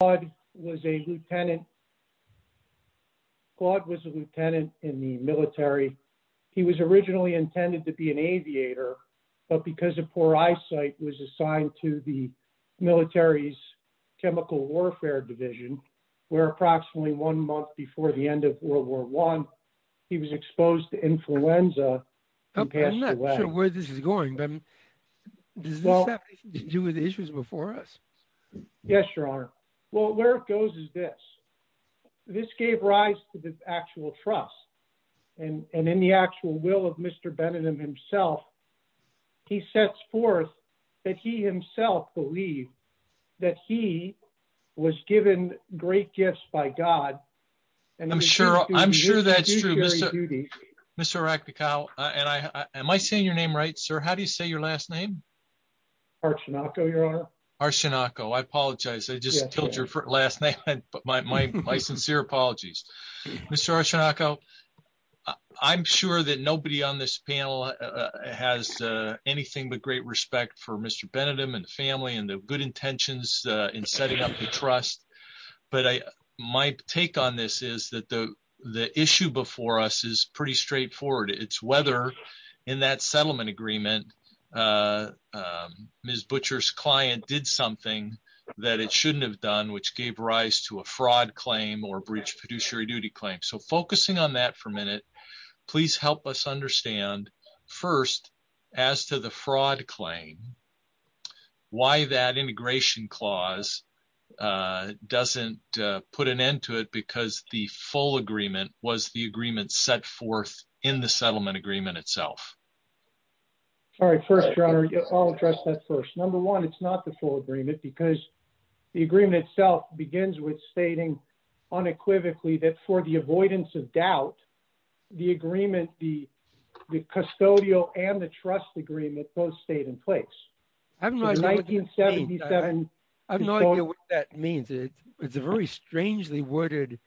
Claude was a lieutenant in the military. He was originally intended to be an aviator but because of poor eyesight was assigned to the military's chemical warfare division where approximately one month before the end of World War I he was exposed to influenza. I'm not sure where this is going. Does this have anything to do with the issues before us? Yes, your honor. Well, where it goes is this. This gave rise to the actual trust and in the actual will of Mr. Benningham himself he sets forth that he himself believed that he was given great gifts by God. I'm sure I'm sure that's true. Mr. Arachnikow, am I saying your name right, sir? How do you say your last name? Archanakow, your honor. Archanakow, I apologize. I just killed your last name but my sincere apologies. Mr. Archanakow, I'm sure that nobody on this panel has anything but great respect for Mr. Benningham and family and the good intentions in setting up the trust but my take on this is that the issue before us is pretty straightforward. It's whether in that settlement agreement Ms. Butcher's client did something that it shouldn't have done which gave rise to a fraud claim or breach of fiduciary duty claim. So focusing on that for a minute, please help us understand first as to the fraud claim, why that integration clause doesn't put an end to it because the full agreement was the agreement set forth in the settlement agreement itself. All right, first your honor, I'll address that first. Number one, it's not the full agreement because the agreement itself begins with stating unequivocally that for the avoidance of doubt the agreement, the custodial and the trust agreement both stayed in place. I have no idea what that means. It's a very strangely worded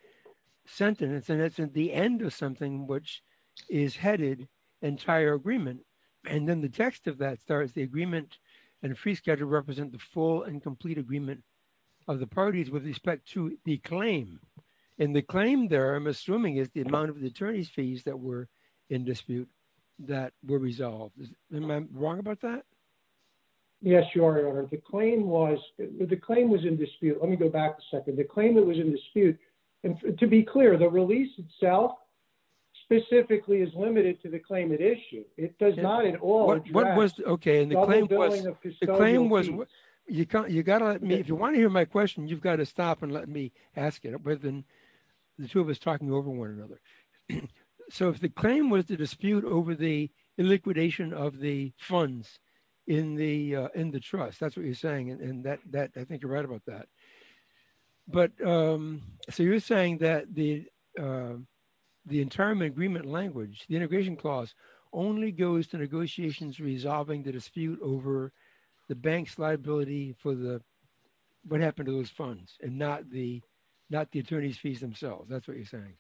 sentence and it's at the end of something which is headed entire agreement and then the text of that starts the agreement and a free schedule represent the full and complete agreement of the parties with respect to the claim. And the claim there I'm assuming is the amount of the attorney's fees that were in dispute that were resolved. Am I wrong about that? Yes, your honor. The claim was, the claim was in dispute. Let me go back a second. The claim that was in dispute and to be clear the release itself specifically is limited to the claim at issue. It does not at all. What was, okay and the claim was, the claim was, you can't, you gotta let me, if you want to hear my question you've got to ask it rather than the two of us talking over one another. So if the claim was the dispute over the liquidation of the funds in the trust that's what you're saying and that I think you're right about that. But so you're saying that the entire agreement language, the integration clause only goes to negotiations resolving the dispute over the bank's liability for the what happened to those funds and not the, not the attorney's fees themselves. That's what you're saying.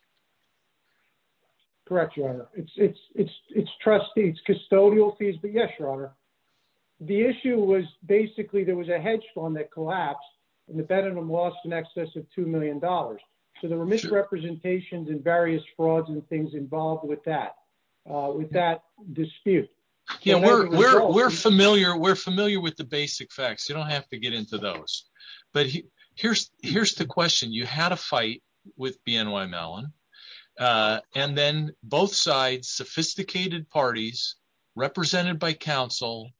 Correct, your honor. It's trustee, it's custodial fees, but yes, your honor. The issue was basically there was a hedge fund that collapsed and the Benningham lost in excess of two million dollars. So there were misrepresentations and various frauds and things involved with that, with that dispute. Yeah, we're familiar, we're familiar with the but here's, here's the question. You had a fight with BNY Mellon and then both sides, sophisticated parties represented by counsel,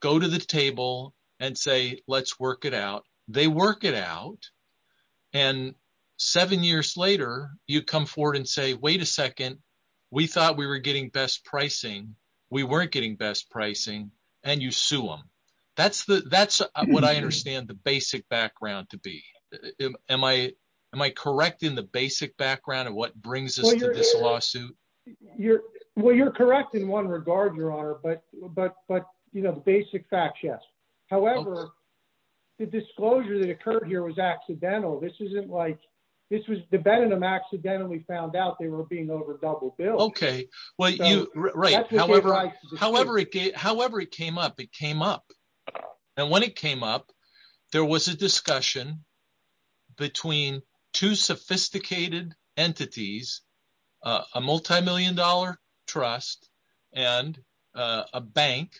go to the table and say, let's work it out. They work it out and seven years later you come forward and say, wait a second, we thought we were getting best pricing, we weren't getting best pricing and you sue them. That's the, that's what I understand the basic background to be. Am I, am I correct in the basic background of what brings us to this lawsuit? You're, well, you're correct in one regard, your honor, but, but, but, you know, the basic facts, yes. However, the disclosure that occurred here was accidental. This isn't like, this was the Benningham accidentally found out they were being over double bill. Okay. Well you, right. However, however it, however it came up, it came up and when it came up, there was a discussion between two sophisticated entities, a multimillion dollar trust and a bank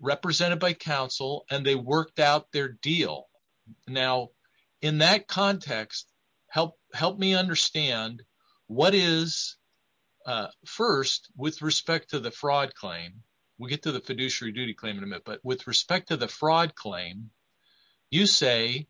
represented by counsel and they worked out their deal. Now in that context, help, help me understand what is first with respect to the fraud claim, we'll get to the fiduciary duty claim in a minute, but with respect to the fraud claim, you say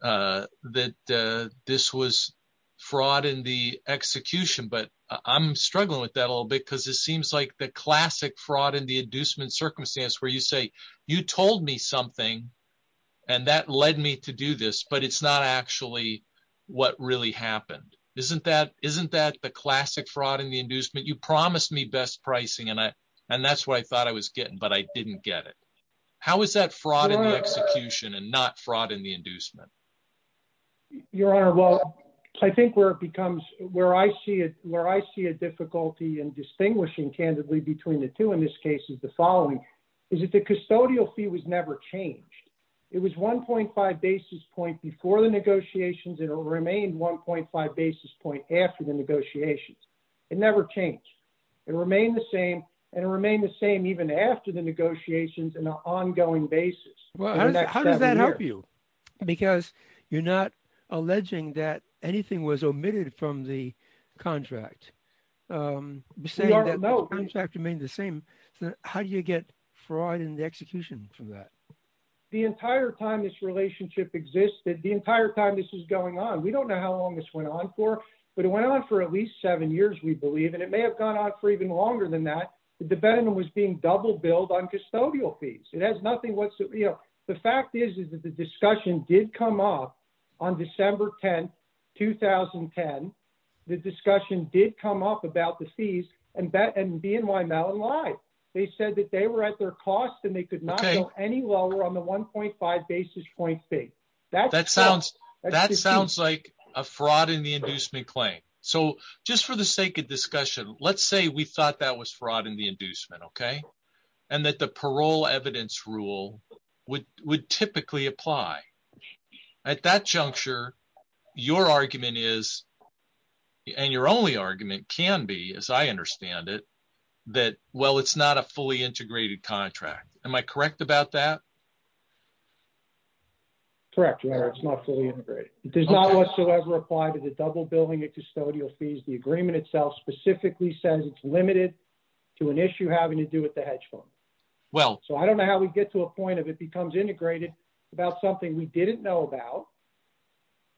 that this was fraud in the execution, but I'm struggling with that a little bit because it seems like the classic fraud in the inducement circumstance where you say, you told me something and that led me to do this, but it's not actually what really happened. Isn't that, isn't that the classic fraud in the inducement? You promised me best pricing and I, and that's what I thought I was getting, but I didn't get it. How is that fraud in the execution and not fraud in the inducement? Your honor? Well, I think where it becomes, where I see it, where I see a difficulty in distinguishing candidly between the two in this case is the following, is that the custodial fee was never changed. It was 1.5 basis point before the negotiations and it remained 1.5 basis point after the negotiations. It never changed. It remained the same and it remained the same even after the negotiations in an ongoing basis. How does that help you? Because you're not alleging that anything was omitted from the contract, saying that the contract remained the same. How do you get fraud in the execution from that? The entire time this relationship existed, the entire time this was going on, we don't know how long this went on for, but it went on for at least seven years, we believe. And it may have gone on for even longer than that. The debentment was being double billed on custodial fees. It has nothing whatsoever. The fact is, is that the discussion did come up on December 10th, 2010. The discussion did come up about the fees and BNY Mellon lied. They said that they were at their cost and they could not go any lower on the 1.5 basis point fee. That sounds like a fraud in the inducement claim. So just for the sake of discussion, let's say we thought that was fraud in the inducement, and that the parole evidence rule would typically apply. At that juncture, your argument is, and your only argument can be, as I understand it, that, well, it's not a fully integrated contract. Am I correct about that? Correct. It's not fully integrated. It does not whatsoever apply to the double billing at custodial fees. The agreement itself specifically says it's limited to an issue having to do with the hedge fund. So I don't know how we get to a point of it becomes integrated about something we didn't know about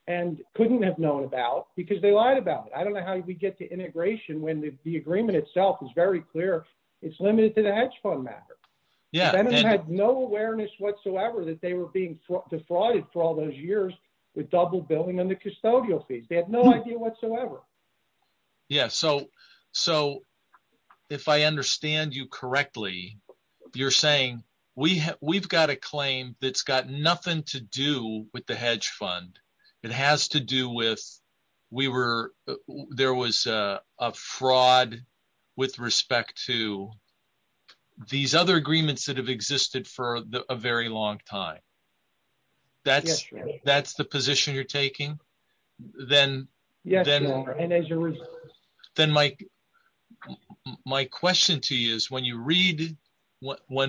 and couldn't have known about because they lied about it. I don't know how we get to integration when the agreement itself is very clear it's limited to the hedge fund matter. They had no awareness whatsoever that they were being defrauded for all those years with double billing and the custodial fees. They had no idea whatsoever. Yeah. So if I understand you correctly, you're saying we've got a claim that's got nothing to do with the hedge fund. It has to do with there was a fraud with respect to these other agreements that have existed for a very long time. That's the position you're taking? Then my question to you is when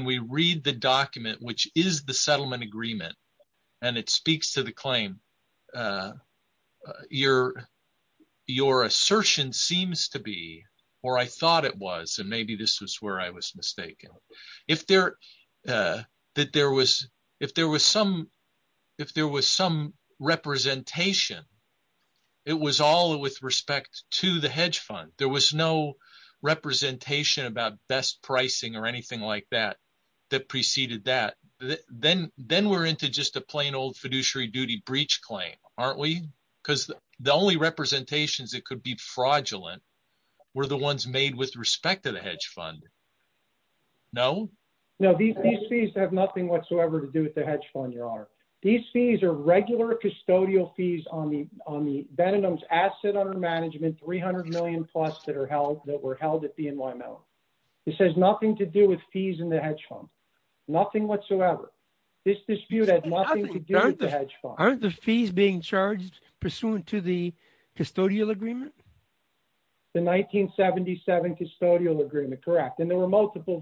we read the document, which is the settlement agreement and it speaks to the claim, your assertion seems to be, or I thought it was, and maybe this was I was mistaken. If there was some representation, it was all with respect to the hedge fund. There was no representation about best pricing or anything like that that preceded that. Then we're into just a plain old fiduciary duty breach claim, aren't we? Because the only representations that could be fraudulent were the ones made with respect to the hedge fund. No? No, these fees have nothing whatsoever to do with the hedge fund, your honor. These fees are regular custodial fees on the Ben and Mims asset under management, 300 million plus that were held at BNY Mellon. This has nothing to do with fees in the hedge fund. Nothing whatsoever. This dispute has nothing to do with the hedge fund. Aren't the fees being charged pursuant to the custodial agreement? The 1977 custodial agreement, correct. There were multiple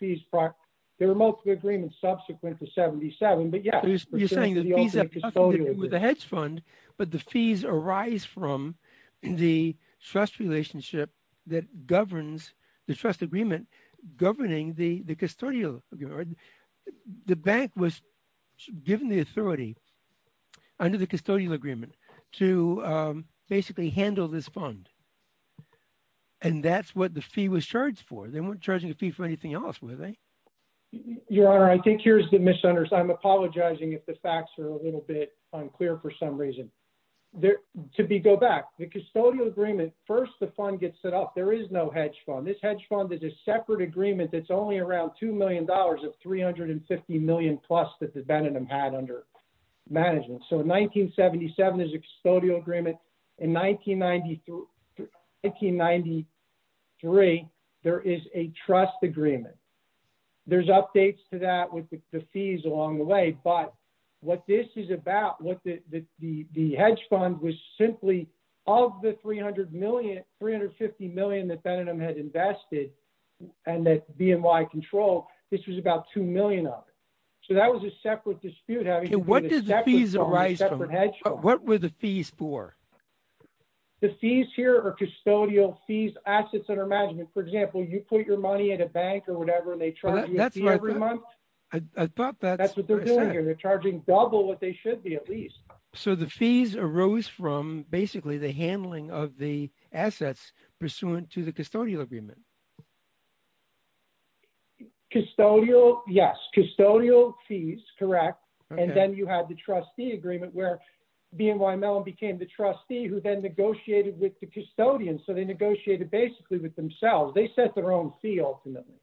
fees. There were multiple agreements subsequent to 77, but yeah. You're saying the fees have nothing to do with the hedge fund, but the fees arise from the trust relationship that governs the trust agreement governing the custodial. The bank was given the authority under the custodial agreement to basically handle this fund, and that's what the fee was charged for. They weren't charging a fee for anything else, were they? Your honor, I think here's the misunderstanding. I'm apologizing if the facts are a little bit unclear for some reason. To go back, the custodial agreement, first the fund gets set up. There is no hedge fund. This hedge fund is a separate agreement that's only around $2 million of 350 million plus that the Ben and Mims had under management. In 1977, there's a custodial agreement. In 1993, there is a trust agreement. There's updates to the fees along the way, but what this is about, the hedge fund was simply of the 350 million that Ben and Mims had invested and that BNY controlled, this was about $2 million of it. That was a separate dispute. What did the fees arise from? What were the fees for? The fees here are custodial fees, assets under management. For example, you put your money at a bank or whatever and they thought that's what they're doing here. They're charging double what they should be at least. The fees arose from basically the handling of the assets pursuant to the custodial agreement. Custodial, yes. Custodial fees, correct. Then you had the trustee agreement where BNY Mellon became the trustee who then negotiated with the custodian. They negotiated basically with themselves. They set their own fee ultimately.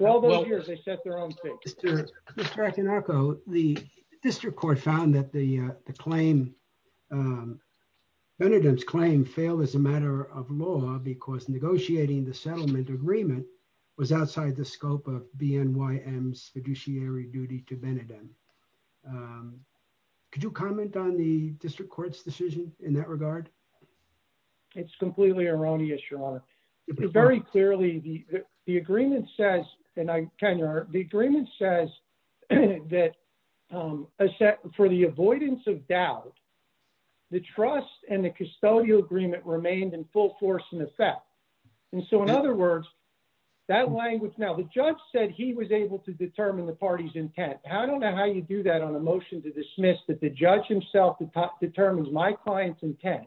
All those years, they set their own fee. Mr. Akinaka, the district court found that the claim, Benidem's claim failed as a matter of law because negotiating the settlement agreement was outside the scope of BNY M's fiduciary duty to Benidem. Could you comment on the district court's decision in that regard? It's completely erroneous, Your Honor. Very clearly, the agreement says that for the avoidance of doubt, the trust and the custodial agreement remained in full force and effect. In other words, that language now, the judge said he was able to determine the party's intent. I don't know how you do that on a motion to dismiss that the judge himself determines my client's intent.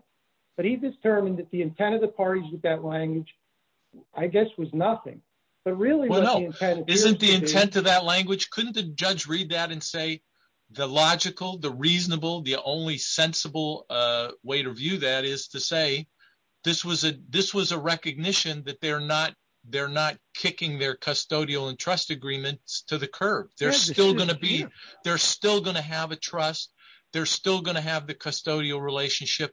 He determined that the intent of the parties with that language, I guess, was nothing. Isn't the intent of that language? Couldn't the judge read that and say, the logical, the reasonable, the only sensible way to view that is to say, this was a recognition that they're not kicking their custodial and trust agreements to the curb. They're still going to have a trust. They're still going to have the custodial relationship.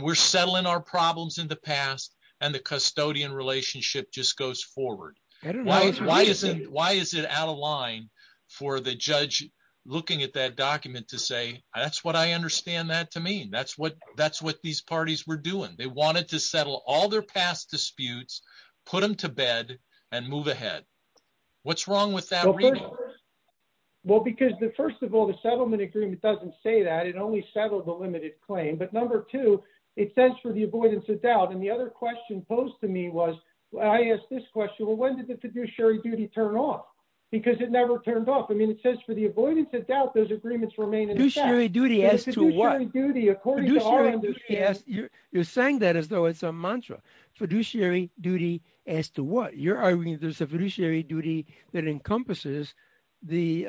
We're settling our problems in the past. The custodian relationship just goes forward. Why is it out of line for the judge looking at that document to say, that's what I understand that to mean. That's what these parties were doing. They wanted to settle all their past disputes, put them to bed, and move ahead. What's wrong with that? Well, because first of all, the settlement agreement doesn't say that. It only settled a limited claim. But number two, it says for the avoidance of doubt. And the other question posed to me was, I asked this question, well, when did the fiduciary duty turn off? Because it never turned off. I mean, it says for the avoidance of doubt, those agreements remain in effect. Fiduciary duty as to what? Fiduciary duty according to our understanding. You're saying that as though it's a mantra. Fiduciary duty as to what? There's a fiduciary duty that encompasses the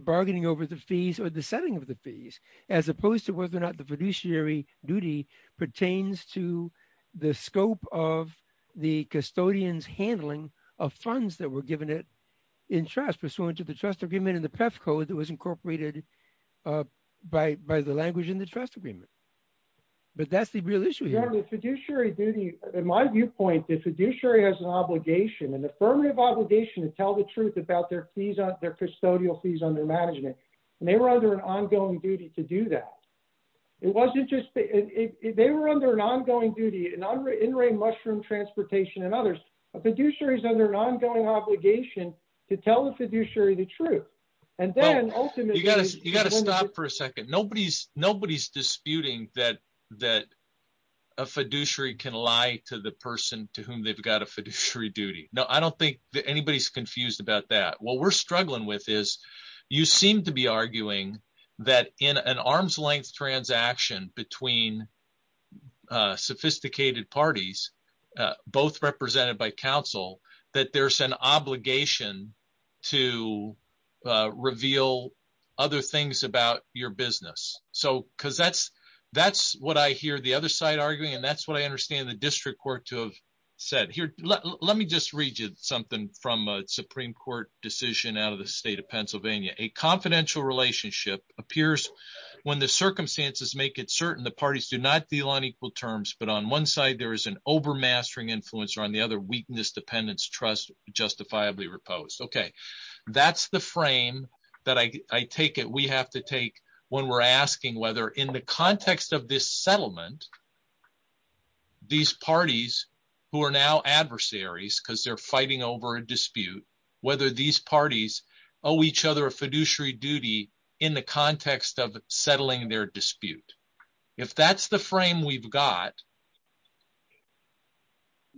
bargaining over the fees or the setting of the fees, as opposed to whether or not the fiduciary duty pertains to the scope of the custodian's handling of funds that were given it in trust, pursuant to the trust agreement and the PEF code that was incorporated by the language in the trust agreement. But that's the real issue here. The fiduciary duty, in my viewpoint, the fiduciary has an obligation, an affirmative obligation, to tell the truth about their fees, their custodial fees under management. And they were under an ongoing duty to do that. It wasn't just, they were under an ongoing duty, in-ring mushroom transportation and others. A fiduciary is under an ongoing obligation to tell the fiduciary the truth. And then ultimately- You got to stop for a second. Nobody's disputing that a fiduciary can lie to the person to whom they've got a fiduciary duty. No, I don't think that anybody's confused about that. What we're struggling with is you seem to be arguing that in an arm's length transaction between sophisticated parties, both represented by counsel, that there's an obligation to reveal other things about your business. Because that's what I hear the other side arguing. And that's what I understand the district court to have said. Let me just read you something from a Supreme Court decision out of the state of Pennsylvania. A confidential relationship appears when the circumstances make it certain the parties do not deal on equal terms. But on one side, there is an overmastering influence. On the other, dependents trust justifiably reposed. Okay. That's the frame that I take it we have to take when we're asking whether in the context of this settlement, these parties who are now adversaries because they're fighting over a dispute, whether these parties owe each other a fiduciary duty in the context of settling their dispute. If that's the frame we've got.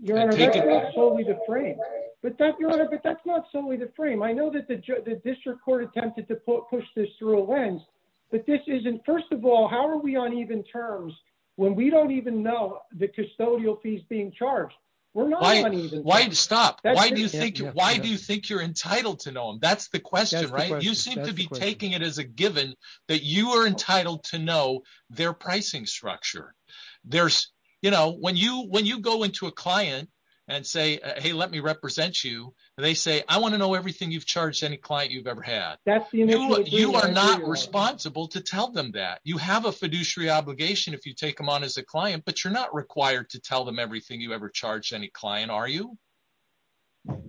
Your Honor, that's not solely the frame. I know that the district court attempted to push this through a lens. But this isn't, first of all, how are we on even terms when we don't even know the custodial fees being charged? We're not on even terms. Why stop? Why do you think you're entitled to know? That's the question, right? You seem to be taking it as a given that you are entitled to know their pricing structure. When you go into a client and say, hey, let me represent you. They say, I want to know everything you've charged any client you've ever had. You are not responsible to tell them that. You have a fiduciary obligation if you take them on as a client, but you're not required to tell them everything you ever charged any client, are you?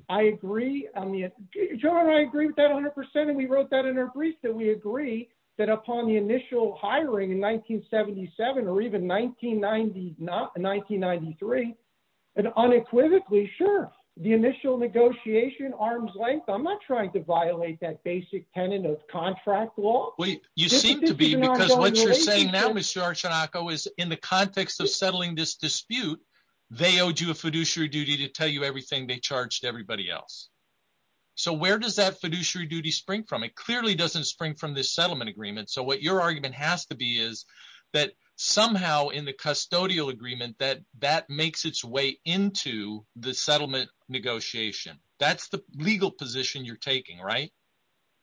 I agree. Your Honor, I agree with that 100%. We wrote that in our brief that we agree that upon the initial hiring in 1977 or even 1993 and unequivocally, sure, the initial negotiation arms length, I'm not trying to violate that basic tenant of contract law. You seem to be because what you're saying now, Mr. Archanako, is in the context of settling this dispute, they owed you a fiduciary duty to tell everything they charged everybody else. Where does that fiduciary duty spring from? It clearly doesn't spring from this settlement agreement. What your argument has to be is that somehow in the custodial agreement that that makes its way into the settlement negotiation. That's the legal position you're taking, right?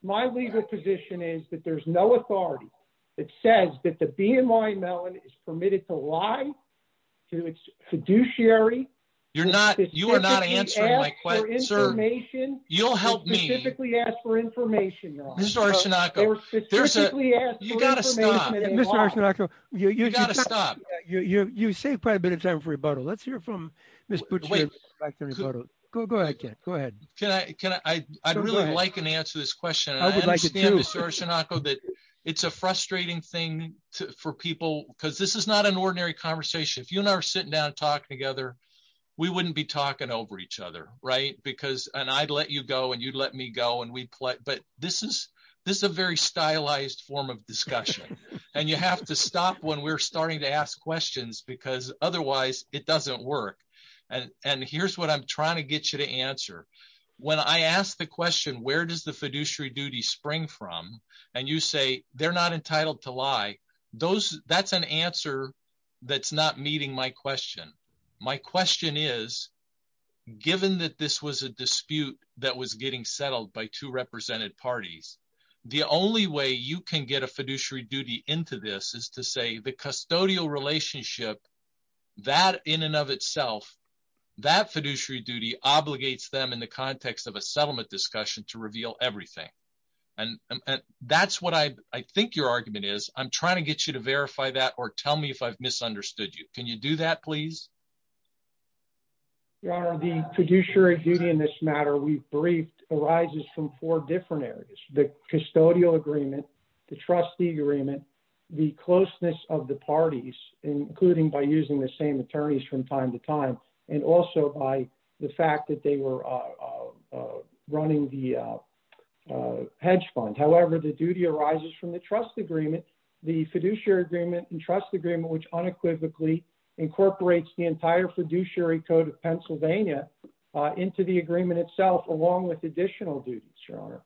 My legal position is that there's no authority that says that the information you'll help me ask for information. You got to stop. You got to stop. You saved quite a bit of time for rebuttal. Let's hear from Ms. Butcher. Go ahead. I'd really like an answer to this question. I understand, Mr. Archanako, that it's a frustrating thing for people because this is not an ordinary conversation. If you and I were sitting down and talking together, we wouldn't be talking over each other, right? I'd let you go and you'd let me go. This is a very stylized form of discussion. You have to stop when we're starting to ask questions because otherwise, it doesn't work. Here's what I'm trying to get you to answer. When I ask the question, where does the fiduciary duty spring from? You say, they're not entitled to lie. That's an answer that's not meeting my question. My question is, given that this was a dispute that was getting settled by two represented parties, the only way you can get a fiduciary duty into this is to say the custodial relationship, that in and of itself, that fiduciary duty obligates them in the context of a settlement discussion to reveal everything. And that's what I think your argument is. I'm trying to get you to verify that or tell me if I've misunderstood you. Can you do that, please? Your Honor, the fiduciary duty in this matter we've briefed arises from four different areas, the custodial agreement, the trustee agreement, the closeness of the parties, including by using the same attorneys from time to time, and also by the fact that they were running the hedge fund. However, the duty arises from the trust agreement, the fiduciary agreement and trust agreement, which unequivocally incorporates the entire fiduciary code of Pennsylvania into the agreement itself, along with additional duties, Your Honor.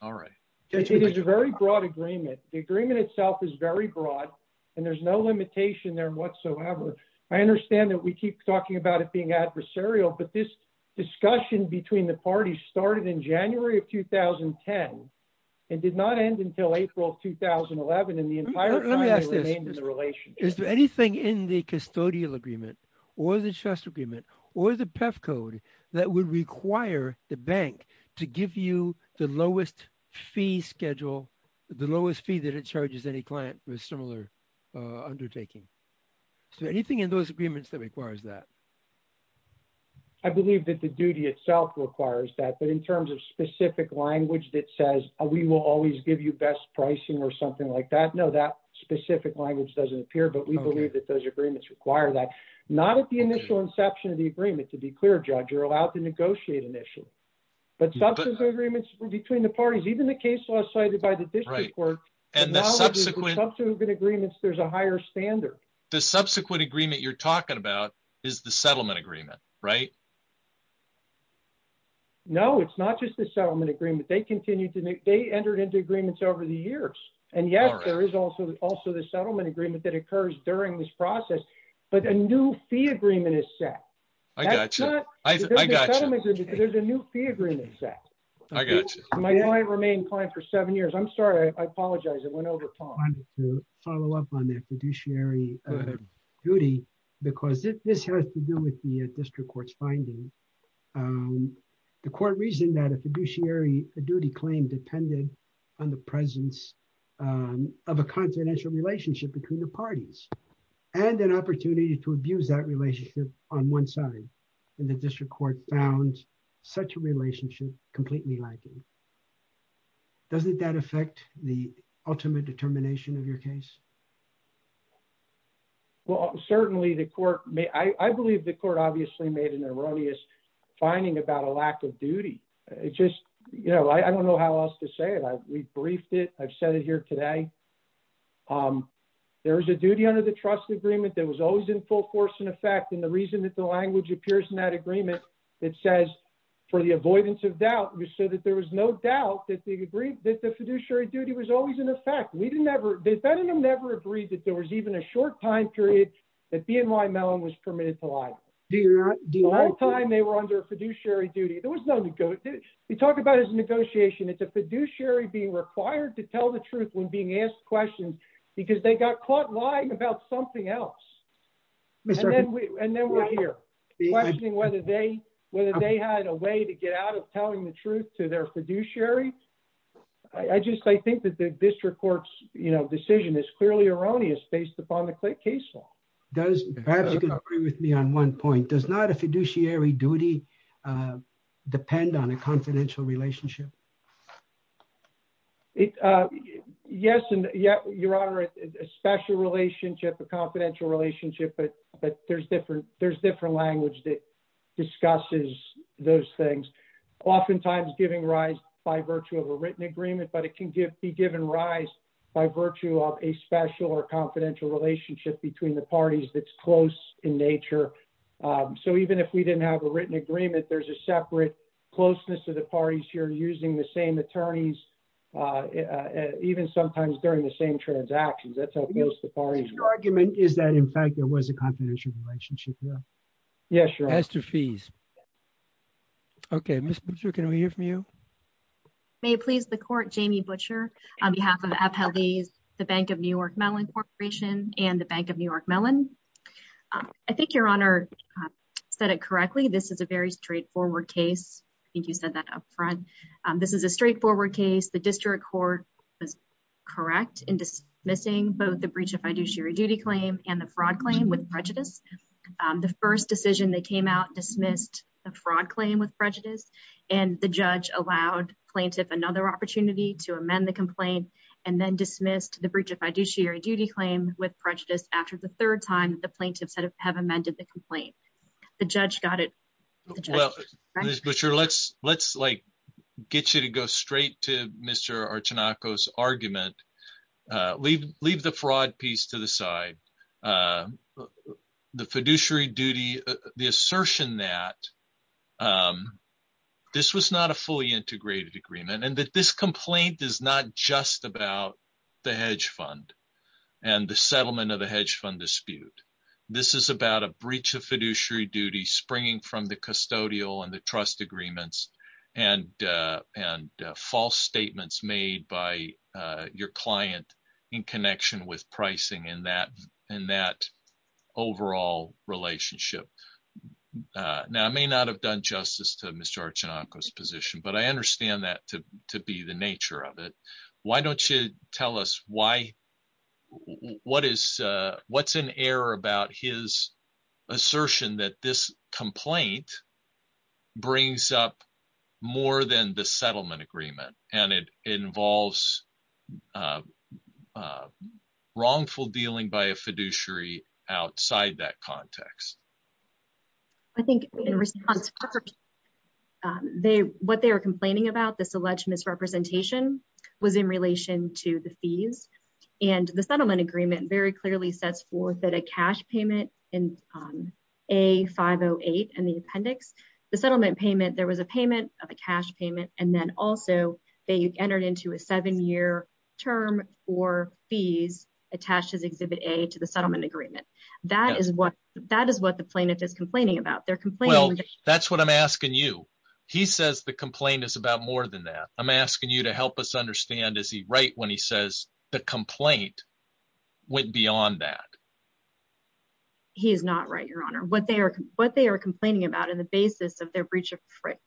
All right. It is a very broad agreement. The agreement itself is very broad, and there's no limitation there whatsoever. I understand that we keep talking about it being adversarial, but this discussion between the parties started in January of 2010 and did not end until April of 2011, and the entire time they remained in the relationship. Let me ask this. Is there anything in the custodial agreement or the trust agreement or the PEF code that would require the bank to give you the lowest fee schedule, the lowest fee that it charges any client for a similar undertaking? Is there anything in those agreements that requires that? I believe that the duty itself requires that, but in terms of specific language that says we will always give you best pricing or something like that, no, that specific language doesn't appear, but we believe that those agreements require that. Not at the initial inception of the agreement, to be clear, Judge, you're allowed to negotiate initially, but substantive agreements between the parties, even the case law cited by the district court, and the subsequent agreements, there's a higher standard. The subsequent agreement you're talking about is the settlement agreement, right? No, it's not just the settlement agreement. They entered into agreements over the years, and yes, there is also the settlement agreement that occurs during this process, but a new fee agreement is set. I got you. There's a new fee agreement set. I got you. My client remained client for seven years. I'm sorry. I apologize. It went over time. I wanted to follow up on that fiduciary duty, because this has to do with the district court's finding. The court reasoned that a fiduciary duty claim depended on the presence of a continental relationship between the parties, and an opportunity to abuse that relationship on one side, and the district court found such a relationship completely lacking. Doesn't that affect the ultimate determination of your case? Well, certainly, the court may... I believe the court obviously made an erroneous finding about a lack of duty. I don't know how else to say it. We briefed it. I've said it here today. There was a duty under the trust agreement that was always in full force and effect, and the reason that the language appears in that agreement that says, for the avoidance of doubt, was so that there was no doubt that the fiduciary duty was always in effect. Ben and I never agreed that there was even a short time period that BNY Mellon was permitted to lie. The whole time they were under a fiduciary duty. We talk about it as a negotiation. It's a fiduciary being required to tell the truth when being asked questions, because they got caught about something else, and then we're here questioning whether they had a way to get out of telling the truth to their fiduciary. I think that the district court's decision is clearly erroneous based upon the case law. Perhaps you can agree with me on one point. Does not a fiduciary duty depend on a confidential relationship? Yes, Your Honor. A special relationship, a confidential relationship, but there's different language that discusses those things. Oftentimes giving rise by virtue of a written agreement, but it can be given rise by virtue of a special or confidential relationship between the parties that's close in nature. Even if we didn't have a written agreement, there's a separate closeness to the parties here using the same attorneys, even sometimes during the same transactions. That's how close the parties are. Your argument is that, in fact, there was a confidential relationship. Yes, Your Honor. As to fees. Okay, Ms. Butcher, can we hear from you? May it please the court, Jamie Butcher, on behalf of Appellees, the Bank of New York Mellon Corporation and the Bank of New York Mellon. I think Your Honor said it correctly. This is a straightforward case. I think you said that up front. This is a straightforward case. The district court was correct in dismissing both the breach of fiduciary duty claim and the fraud claim with prejudice. The first decision that came out dismissed the fraud claim with prejudice, and the judge allowed plaintiff another opportunity to amend the complaint and then dismissed the breach of fiduciary duty claim with prejudice after the third time the plaintiffs have amended the complaint. The judge got it. Ms. Butcher, let's get you to go straight to Mr. Archanako's argument. Leave the fraud piece to the side. The fiduciary duty, the assertion that this was not a fully integrated agreement and that this complaint is not just about the hedge fund and the settlement of the hedge fund dispute. This is about a breach of fiduciary duty springing from the custodial and the trust agreements and false statements made by your client in connection with pricing in that overall relationship. Now, I may not have done justice to Mr. Archanako's position, but I understand that to be the nature of it. Why don't you tell us why what is what's in error about his assertion that this complaint brings up more than the settlement agreement and it involves wrongful dealing by a fiduciary outside that context? I think in response, what they were complaining about, this alleged misrepresentation was in relation to the fees and the settlement agreement very clearly sets forth that a cash payment in A-508 and the appendix, the settlement payment, there was a payment of a cash payment and then also they entered into a seven-year term for fees attached as Exhibit A to the settlement agreement. That is what the plaintiff is complaining about. They're complaining. Well, that's what I'm asking you. He says the complaint is about more than that. I'm asking you to help us understand as right when he says the complaint went beyond that. He is not right, Your Honor. What they are complaining about in the basis of their breach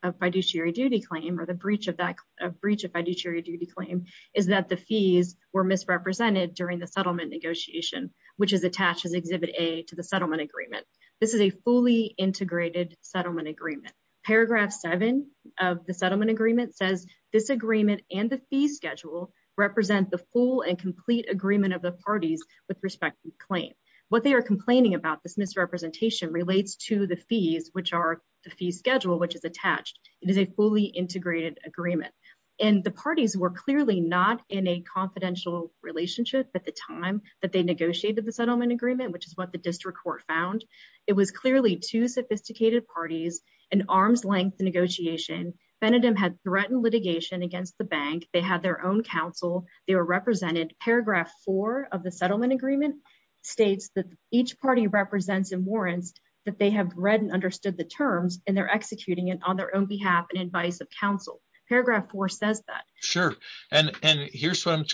of fiduciary duty claim or the breach of that breach of fiduciary duty claim is that the fees were misrepresented during the settlement negotiation, which is attached as Exhibit A to the settlement agreement. This is a fully integrated settlement agreement. Paragraph seven of the settlement agreement says this agreement and the fee schedule represent the full and complete agreement of the parties with respect to the claim. What they are complaining about this misrepresentation relates to the fees, which are the fee schedule, which is attached. It is a fully integrated agreement and the parties were clearly not in a confidential relationship at the time that they negotiated the settlement agreement, which is what the district court found. It was clearly two sophisticated parties, an arm's-length negotiation. Benedim had threatened litigation against the bank. They had their own counsel. They were represented. Paragraph four of the settlement agreement states that each party represents and warrants that they have read and understood the terms and they're executing it on their own behalf and advice of counsel. Paragraph four says that. Sure, and here's what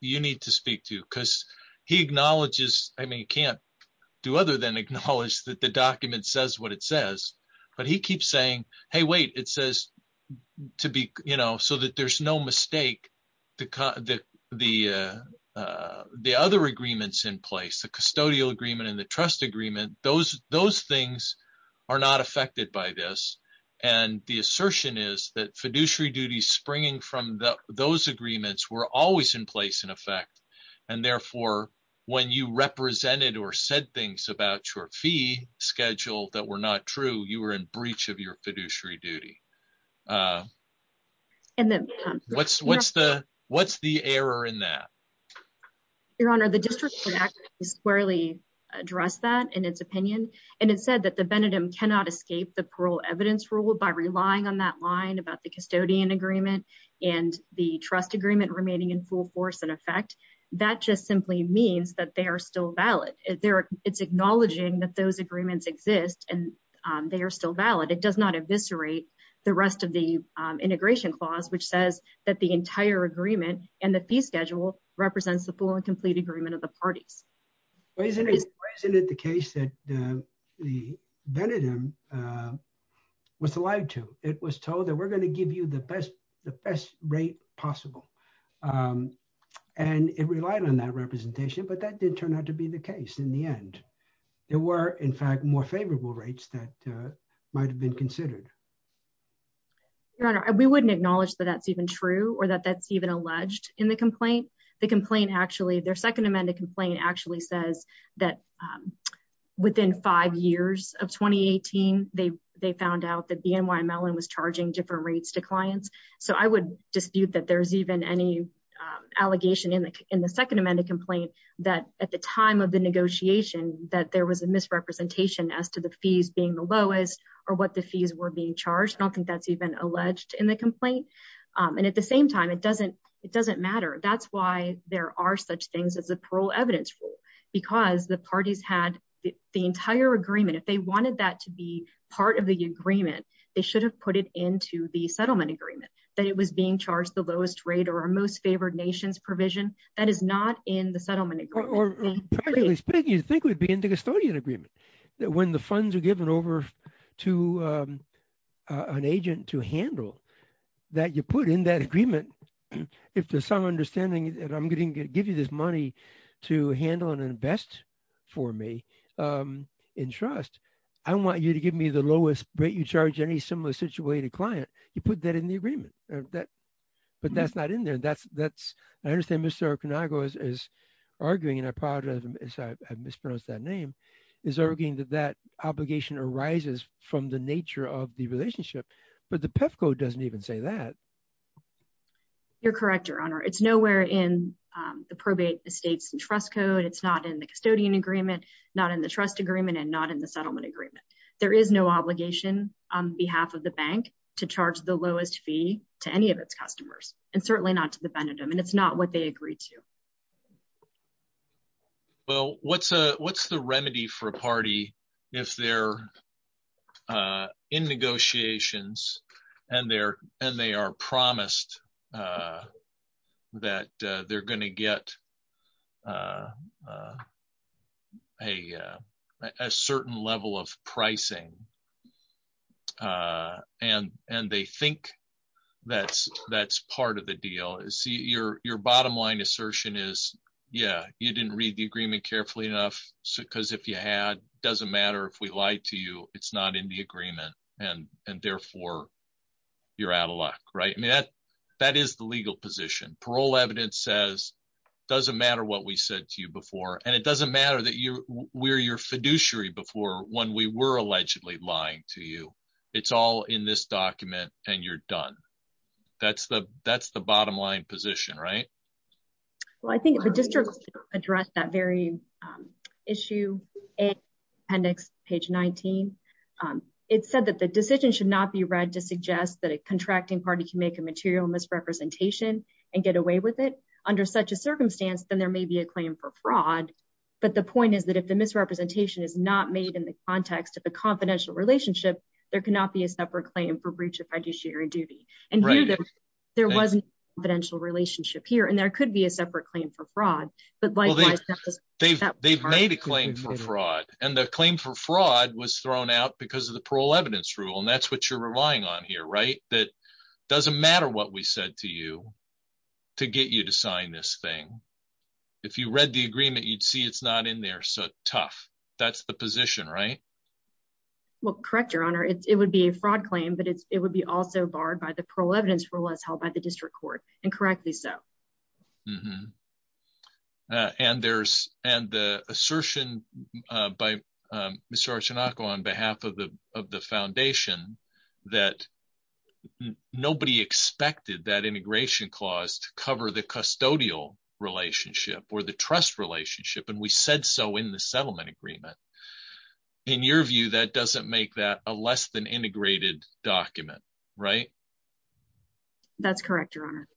you need to speak to because he acknowledges, I mean he can't do acknowledge that the document says what it says, but he keeps saying, hey, wait, it says to be, you know, so that there's no mistake. The other agreements in place, the custodial agreement and the trust agreement, those things are not affected by this and the assertion is that fiduciary duties springing from those agreements were always in place in effect and therefore when you represented or said things about your fee schedule that were not true, you were in breach of your fiduciary duty. What's the error in that? Your honor, the district could actually squarely address that in its opinion and it said that the Benedim cannot escape the parole evidence rule by relying on that line about the custodian agreement and the trust agreement remaining in full force in effect. That just simply means that they are still valid. It's acknowledging that those agreements exist and they are still valid. It does not eviscerate the rest of the integration clause which says that the entire agreement and the fee schedule represents the full and complete agreement of the parties. Isn't it the case that the Benedim was lied to? It was told that we're going to give you the best rate possible and it relied on that representation but that did turn out to be the case in the end. There were in fact more favorable rates that might have been considered. Your honor, we wouldn't acknowledge that that's even true or that that's even alleged in the complaint. The complaint actually, their second amended complaint actually says that within five years of 2018, they found out that BNY Mellon was charging different rates to clients. I would dispute that there's even any allegation in the second amended complaint that at the time of the negotiation that there was a misrepresentation as to the fees being the lowest or what the fees were being charged. I don't think that's even alleged in the complaint and at the same time, it doesn't matter. That's why there are such things as the parole evidence rule because the parties had the entire agreement. If they wanted that to be part of the agreement, they should have put it into the settlement agreement that it was being charged the lowest rate or our most favored nation's provision. That is not in the settlement agreement. Or frankly speaking, you think it would be in the custodian agreement that when the funds are given over to an agent to handle that you put in that agreement. If there's some understanding that I'm going to give you this money to handle and invest for me in trust, I want you to give me the lowest rate you charge any similar situated client, you put that in the agreement. But that's not in there. I understand Mr. Arconagos is arguing and I apologize, I mispronounced that name, is arguing that that obligation arises from the nature of the relationship, but the PEFCO doesn't even say that. You're correct, your honor. It's nowhere in the probate states and trust code. It's not in the custodian agreement, not in the trust agreement and not in settlement agreement. There is no obligation on behalf of the bank to charge the lowest fee to any of its customers and certainly not to the pendulum and it's not what they agreed to. Well, what's the remedy for a party if they're in negotiations and they are promised that they're going to get a certain level of pricing and they think that's part of the deal? Your bottom line assertion is, yeah, you didn't read the agreement carefully enough because if you had, doesn't matter if we lied to you, it's not in the agreement and therefore you're out of luck. That is the legal position. Parole evidence says it doesn't matter what we said to you before and it doesn't matter that we're your fiduciary before when we were allegedly lying to you. It's all in this document and you're done. That's the bottom line position, right? Well, I think the district addressed that very issue in appendix page 19. It said that the material misrepresentation and get away with it under such a circumstance, then there may be a claim for fraud. But the point is that if the misrepresentation is not made in the context of a confidential relationship, there cannot be a separate claim for breach of fiduciary duty. There wasn't a confidential relationship here and there could be a separate claim for fraud. They've made a claim for fraud and the claim for fraud was thrown out because of the parole rule and that's what you're relying on here, right? That doesn't matter what we said to you to get you to sign this thing. If you read the agreement, you'd see it's not in there. So, tough. That's the position, right? Well, correct your honor. It would be a fraud claim, but it would be also barred by the parole evidence rule as held by the district court and correctly so. And the assertion by Mr. Archinoco on behalf of the foundation that nobody expected that integration clause to cover the custodial relationship or the trust relationship and we said so in the settlement agreement. In your view, that doesn't make that less than integrated document, right? That's correct, your honor.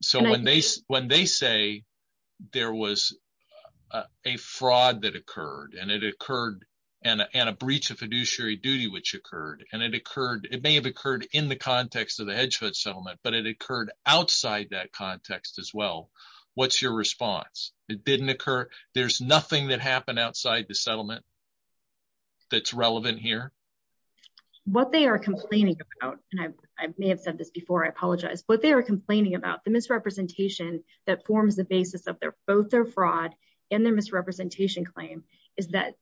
So, when they say there was a fraud that occurred and it occurred and a breach of fiduciary duty which occurred and it occurred, it may have occurred in the context of the Hedgefoot settlement, but it occurred outside that context as well. What's your response? It didn't occur. There's nothing that happened What they are complaining about and I may have said this before, I apologize, but they are complaining about the misrepresentation that forms the basis of their both their fraud and their misrepresentation claim is that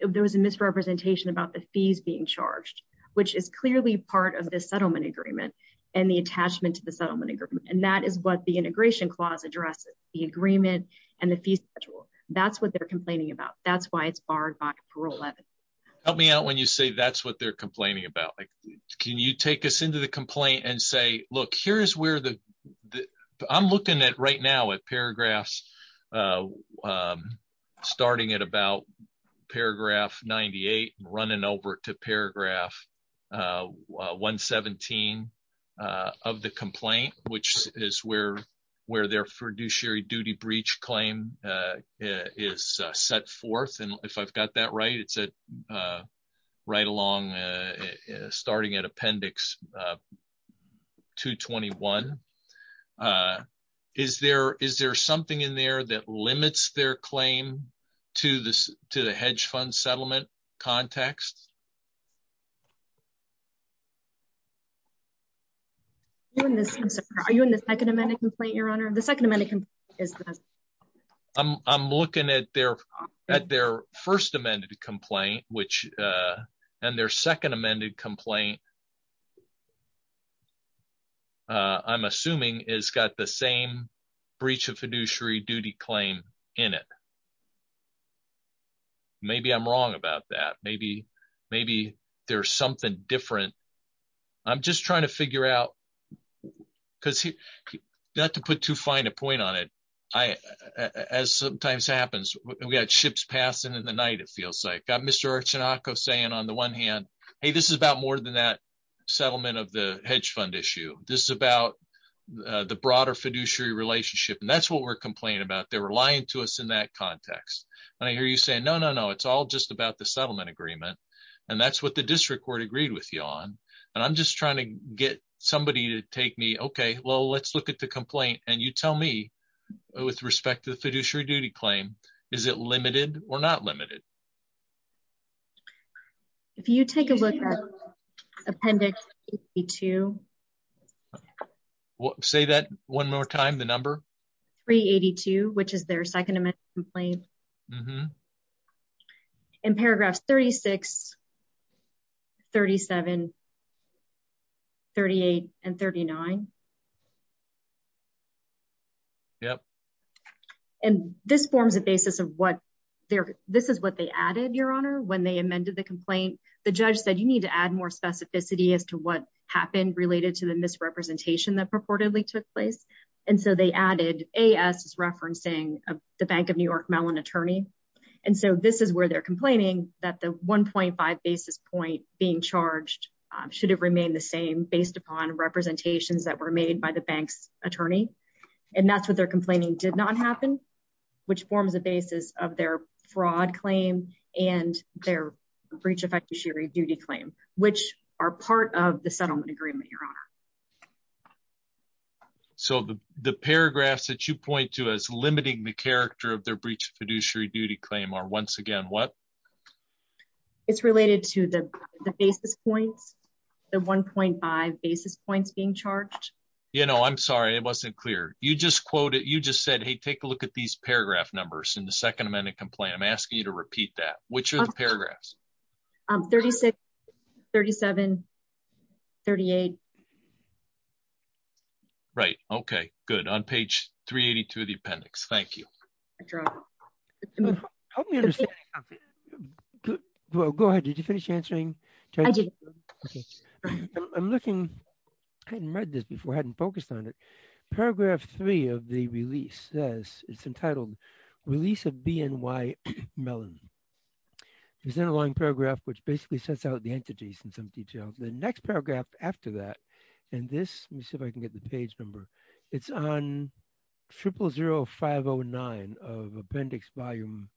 there was a misrepresentation about the fees being charged which is clearly part of the settlement agreement and the attachment to the settlement agreement and that is what the integration clause addresses. The agreement and the fee schedule. That's what they're complaining about. That's why it's barred by Help me out when you say that's what they're complaining about. Can you take us into the complaint and say, look, here's where the I'm looking at right now at paragraphs starting at about paragraph 98 and running over to paragraph 117 of the complaint which is where their fiduciary duty breach claim is set forth and if I've got that right, it's a right along starting at appendix 221. Is there something in there that limits their claim to the hedge fund settlement context? I'm sorry. Are you in the second amendment complaint, your honor? The second amendment is I'm looking at their at their first amended complaint which and their second amended complaint I'm assuming is got the same breach of fiduciary duty claim in it. Maybe I'm wrong about that. Maybe there's something different. I'm just trying to figure out because not to put too fine a point on it, as sometimes happens, we had ships passing in the night it feels like. Got Mr. Archanakos saying on the one hand, hey, this is about more than that settlement of the hedge fund issue. This is about the broader fiduciary relationship and that's we're complaining about. They're relying to us in that context and I hear you say, no, no, no, it's all just about the settlement agreement and that's what the district court agreed with you on and I'm just trying to get somebody to take me, okay, well, let's look at the complaint and you tell me with respect to the fiduciary duty claim, is it limited or not limited? If you take a look at appendix 82, say that one more time, the number 382, which is their second amendment complaint in paragraphs 36, 37, 38 and 39. Yep. And this forms a basis of what they're, this is what they added, your honor, when they amended the complaint, the judge said, you need to add more specificity as to what happened related to the misrepresentation that purportedly took place and so they added A.S. is referencing the Bank of New York Mellon attorney and so this is where they're complaining that the 1.5 basis point being charged should have remained the same based upon representations that were in the made by the bank's attorney and that's what they're complaining did not happen, which forms a basis of their fraud claim and their breach of fiduciary duty claim, which are part of the settlement agreement, your honor. So the paragraphs that you point to as limiting the character of their breach of fiduciary duty claim are once again what? It's related to the basis points, the 1.5 basis points being charged. You know, I'm sorry, it wasn't clear. You just quoted, you just said, hey, take a look at these paragraph numbers in the second amendment complaint. I'm asking you to repeat that. Which are the paragraphs? 36, 37, 38. Right, okay, good. On page 382 of the appendix. Thank you. Go ahead, did you finish answering? I did. I'm looking, I hadn't read this before, hadn't focused on it. Paragraph three of the release says, it's entitled Release of BNY Mellon. There's a long paragraph which basically sets out the entities in some detail. The next of appendix volume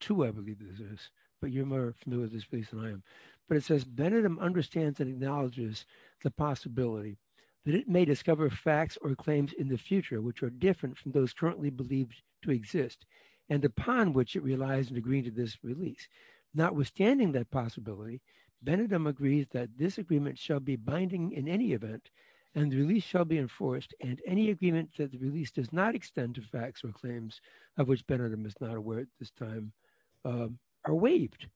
two, I believe it is. But you're more familiar with this piece than I am. But it says, Benidorm understands and acknowledges the possibility that it may discover facts or claims in the future which are different from those currently believed to exist and upon which it relies and agree to this release. Notwithstanding that possibility, Benidorm agrees that this agreement shall be binding in any event and the release shall be enforced and any agreement that does not extend to facts or claims of which Benidorm is not aware at this time are waived.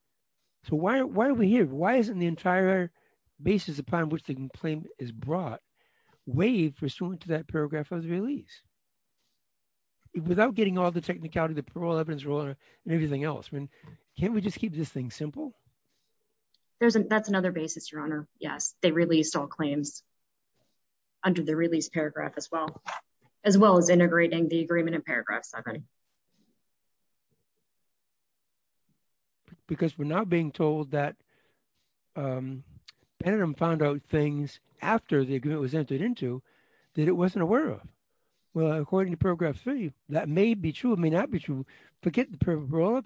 So why are we here? Why isn't the entire basis upon which the complaint is brought waived pursuant to that paragraph of the release? Without getting all the technicality, the parole evidence and everything else. Can't we just keep this thing simple? That's another basis, your honor. Yes, they released all claims under the release paragraph as well, as well as integrating the agreement in paragraph seven. Because we're not being told that Benidorm found out things after the agreement was entered into that it wasn't aware of. Well, according to paragraph three, that may be true, may not be true. Forget the parole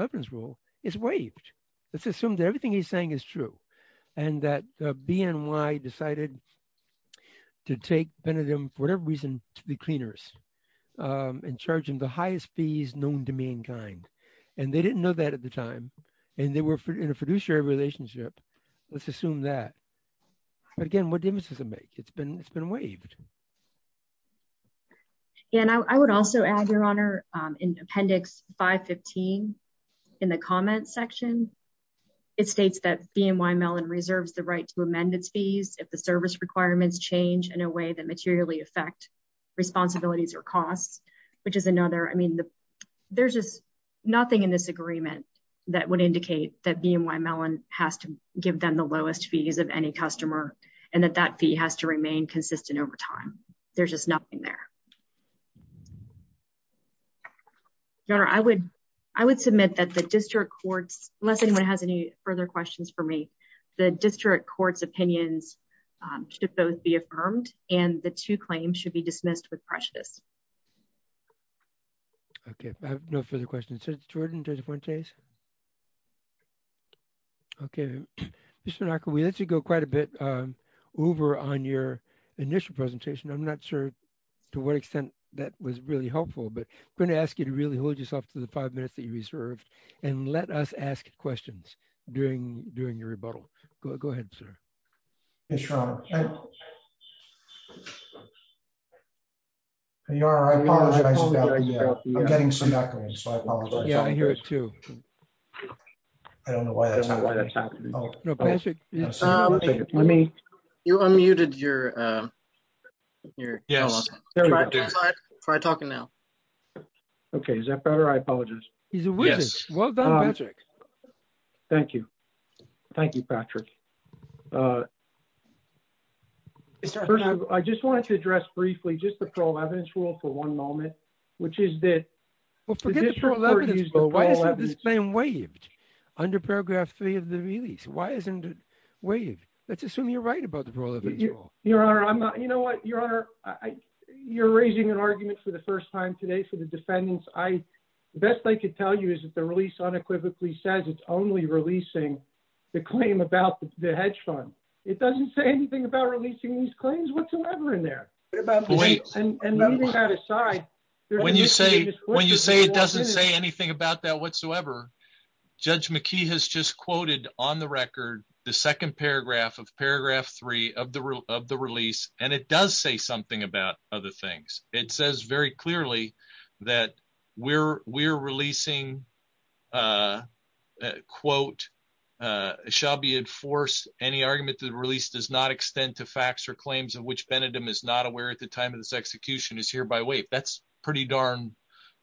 evidence rule. It's waived. Let's assume that everything he's saying is true and that BNY decided to take Benidorm, for whatever reason, to the cleaners and charge him the highest fees known to mankind. And they didn't know that at the time and they were in a fiduciary relationship. Let's assume that. Again, what difference does it make? It's been it's been waived. And I would also add, your honor, in appendix 515 in the comments section, it states that BNY Mellon reserves the right to amend its fees if the service requirements change in a way that materially affect responsibilities or costs, which is another. I mean, there's just nothing in this agreement that would indicate that BNY Mellon has to give them the lowest fees of any customer and that that fee has to remain consistent over time. There's just nothing there. Your honor, I would I would submit that the district courts, unless anyone has any further questions for me, the district courts opinions should both be affirmed and the two claims should be dismissed with prejudice. OK, I have no further questions. Mr. Jordan, Judge Fuentes. OK, Mr. Naka, we let you go quite a bit over on your initial presentation. I'm not sure to what extent that was really helpful, but I'm going to ask you to really hold yourself to the five minutes that you reserved and let us ask questions during during your rebuttal. Go ahead, sir. It's wrong. Your honor, I apologize. I'm getting some background, so I apologize. Yeah, I hear it, too. I don't know why that's happening. Oh, no, Patrick. Let me. You unmuted your your. Yes. Try talking now. OK, is that better? I apologize. He's a witness. Well done, Patrick. Thank you. Thank you, Patrick. I just wanted to address briefly just the parole evidence rule for one moment, which is that. Well, forget the parole evidence rule. Why isn't this claim waived under paragraph three of the release? Why isn't it waived? Let's assume you're right about the parole evidence rule. Your honor, I'm not. You know what, your honor? You're raising an argument for the first time today for the defendants. The best I could tell you is that the release unequivocally says it's only releasing the claim about the hedge fund. It doesn't say anything about releasing these claims whatsoever in there. And leaving that aside. When you say when you say it doesn't say anything about that whatsoever, Judge McKee has just quoted on the record the second paragraph of paragraph three of the of the release, and it does say something about other things. It says very clearly that we're releasing, quote, shall be enforced any argument that release does not extend to facts or claims of which Benedim is not aware at the time of this execution is hereby waived. That's pretty darn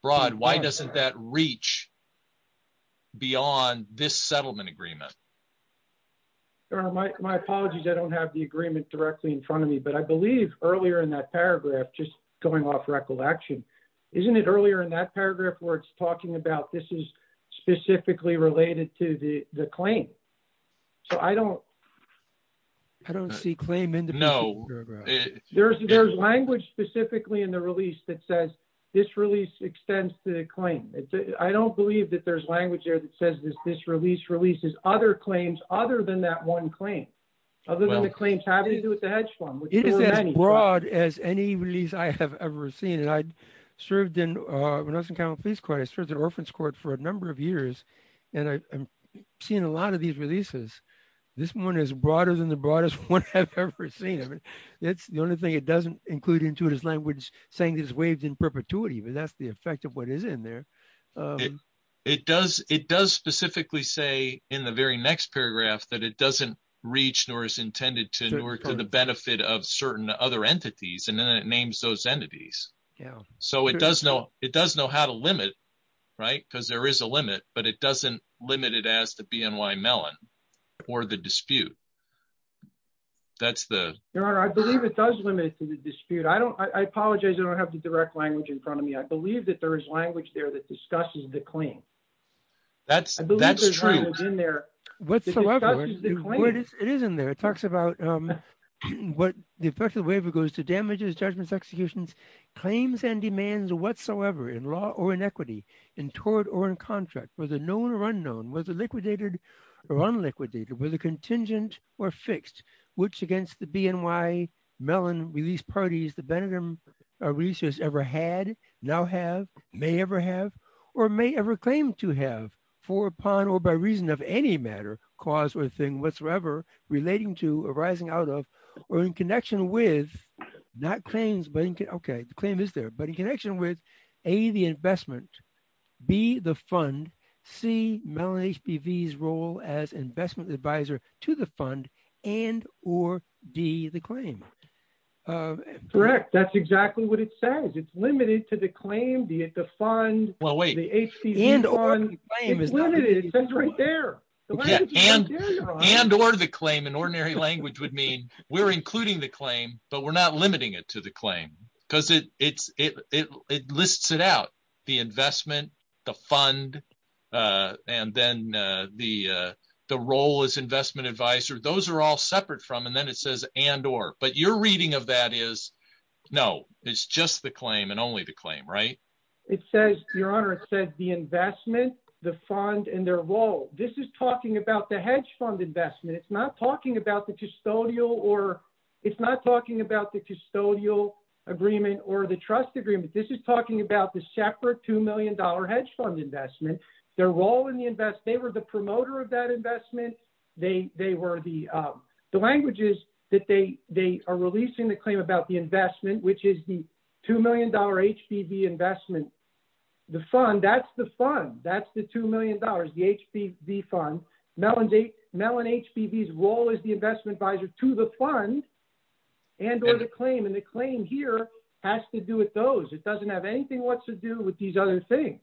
broad. Why doesn't that reach beyond this settlement agreement? Your honor, my apologies. I don't have the agreement directly in front of me, but I believe earlier in that paragraph, just going off recollection, isn't it earlier in that paragraph where it's talking about this is specifically related to the claim? So I don't. I don't see claim in the. No. There's language specifically in the release that says this release extends to the claim. I don't believe that there's language there that says this release releases other claims other than that one claim. Other than the claims having to do with the hedge fund. It is as broad as any release I have ever seen, and I'd served in when I was in county police court, I served in orphans court for a number of years. And I've seen a lot of these releases. This one is broader than the broadest one I've ever seen. I mean, that's the only thing it doesn't include into this language saying is waived in perpetuity, but that's the effect of what is in there. It does. It does specifically say in the very next paragraph that it doesn't reach nor is intended to work for the benefit of certain other entities, and then it names those entities. So it does know it does know how to limit, right? Because there is a limit, but it doesn't limit it as the BNY Mellon or the dispute. That's the I believe it does limit to the dispute. I don't I apologize. I don't have the direct language in front of me. I believe that there is language there that discusses the claim. That's that's true in there. It is in there. It talks about what the effect of the waiver goes to damages, judgments, executions, claims, and demands whatsoever in law or in equity, in tort or in contract, whether known or unknown, whether liquidated or unliquidated, whether contingent or fixed, which against the BNY Mellon release parties the Benningham release has ever had, now have, may ever have, or may ever claim to have, for, upon, or by reason of any matter, cause or thing whatsoever relating to arising out of, or in connection with, not claims, but okay, the claim is there, but in connection with A, the investment, B, the fund, C, Mellon HBV's role as investment advisor to the fund, and or D, the claim. Correct. That's exactly what it says. It's limited to the claim, the fund, the HBV fund. And or the claim, in ordinary language would mean we're including the claim, but we're not limiting it to the claim because it lists it out. The investment, the fund, and then the role as investment advisor, those are all separate from, and then it says, and or, but your reading of that is, no, it's just the claim and only the claim, right? It says, your honor, it says the investment, the fund, and their role. This is talking about the hedge fund investment. It's not talking about the custodial or, it's not talking about the custodial agreement or the trust agreement. This is talking about the separate $2 million hedge fund investment, their role in the invest, they were the promoter of that investment. They, they were the, the languages that they, they are releasing the claim about the investment, which is the $2 million HBV investment, the fund, that's the fund. That's the $2 million, the HBV fund. Mellon HBV's role is the investment advisor to the fund and or the claim. And the claim here has to do with those. It doesn't have anything what's to do with these other things.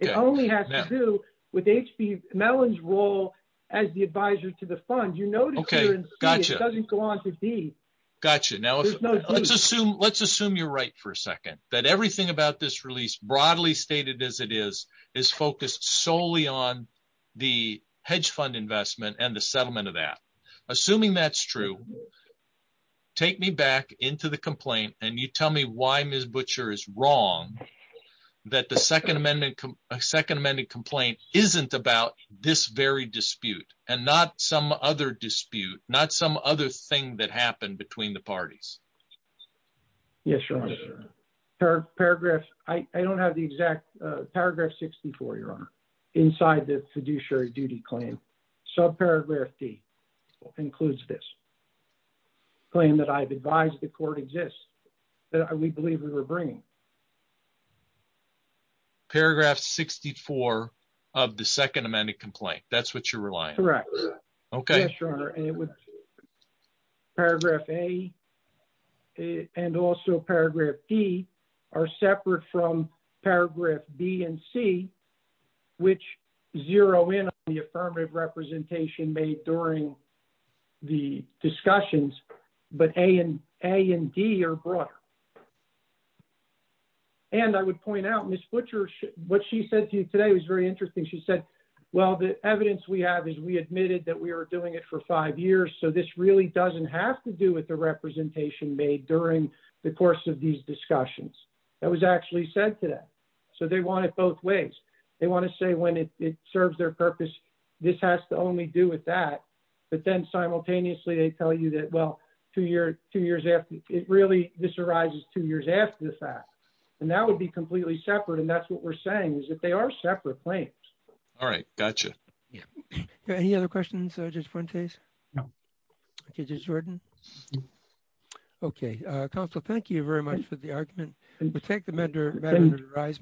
It only has to do with HB, Mellon's role as the advisor to the fund, you know, gotcha. Gotcha. Now let's assume, let's assume you're right for a second, that everything about this release broadly stated as it is, is focused solely on the hedge fund investment and the settlement of that. Assuming that's true, take me back into the complaint and you tell me why Ms. Butcher is wrong that the second amendment, second amended complaint isn't about this very dispute, not some other thing that happened between the parties. Yes, Your Honor. Paragraph, I don't have the exact paragraph 64, Your Honor, inside the fiduciary duty claim. Subparagraph D includes this claim that I've advised the court exists that we believe we were bringing. Paragraph 64 of the second amended complaint. That's what you're relying on. Correct. Okay. Yes, Your Honor. Paragraph A and also paragraph D are separate from paragraph B and C, which zero in on the affirmative representation made during the discussions, but A and D are broader. And I would point out Ms. Butcher, what she said to me today was very interesting. She said, well, the evidence we have is we admitted that we were doing it for five years. So this really doesn't have to do with the representation made during the course of these discussions that was actually said today. So they want it both ways. They want to say when it serves their purpose, this has to only do with that. But then simultaneously, they tell you that, well, two years, two years after it really, this arises two years after the and that would be completely separate. And that's what we're saying is that they are separate claims. All right. Got you. Yeah. Any other questions, Judge Fuentes? No. Okay. Judge Jordan? Okay. Counsel, thank you very much for the argument. We'll take the matter under the rise.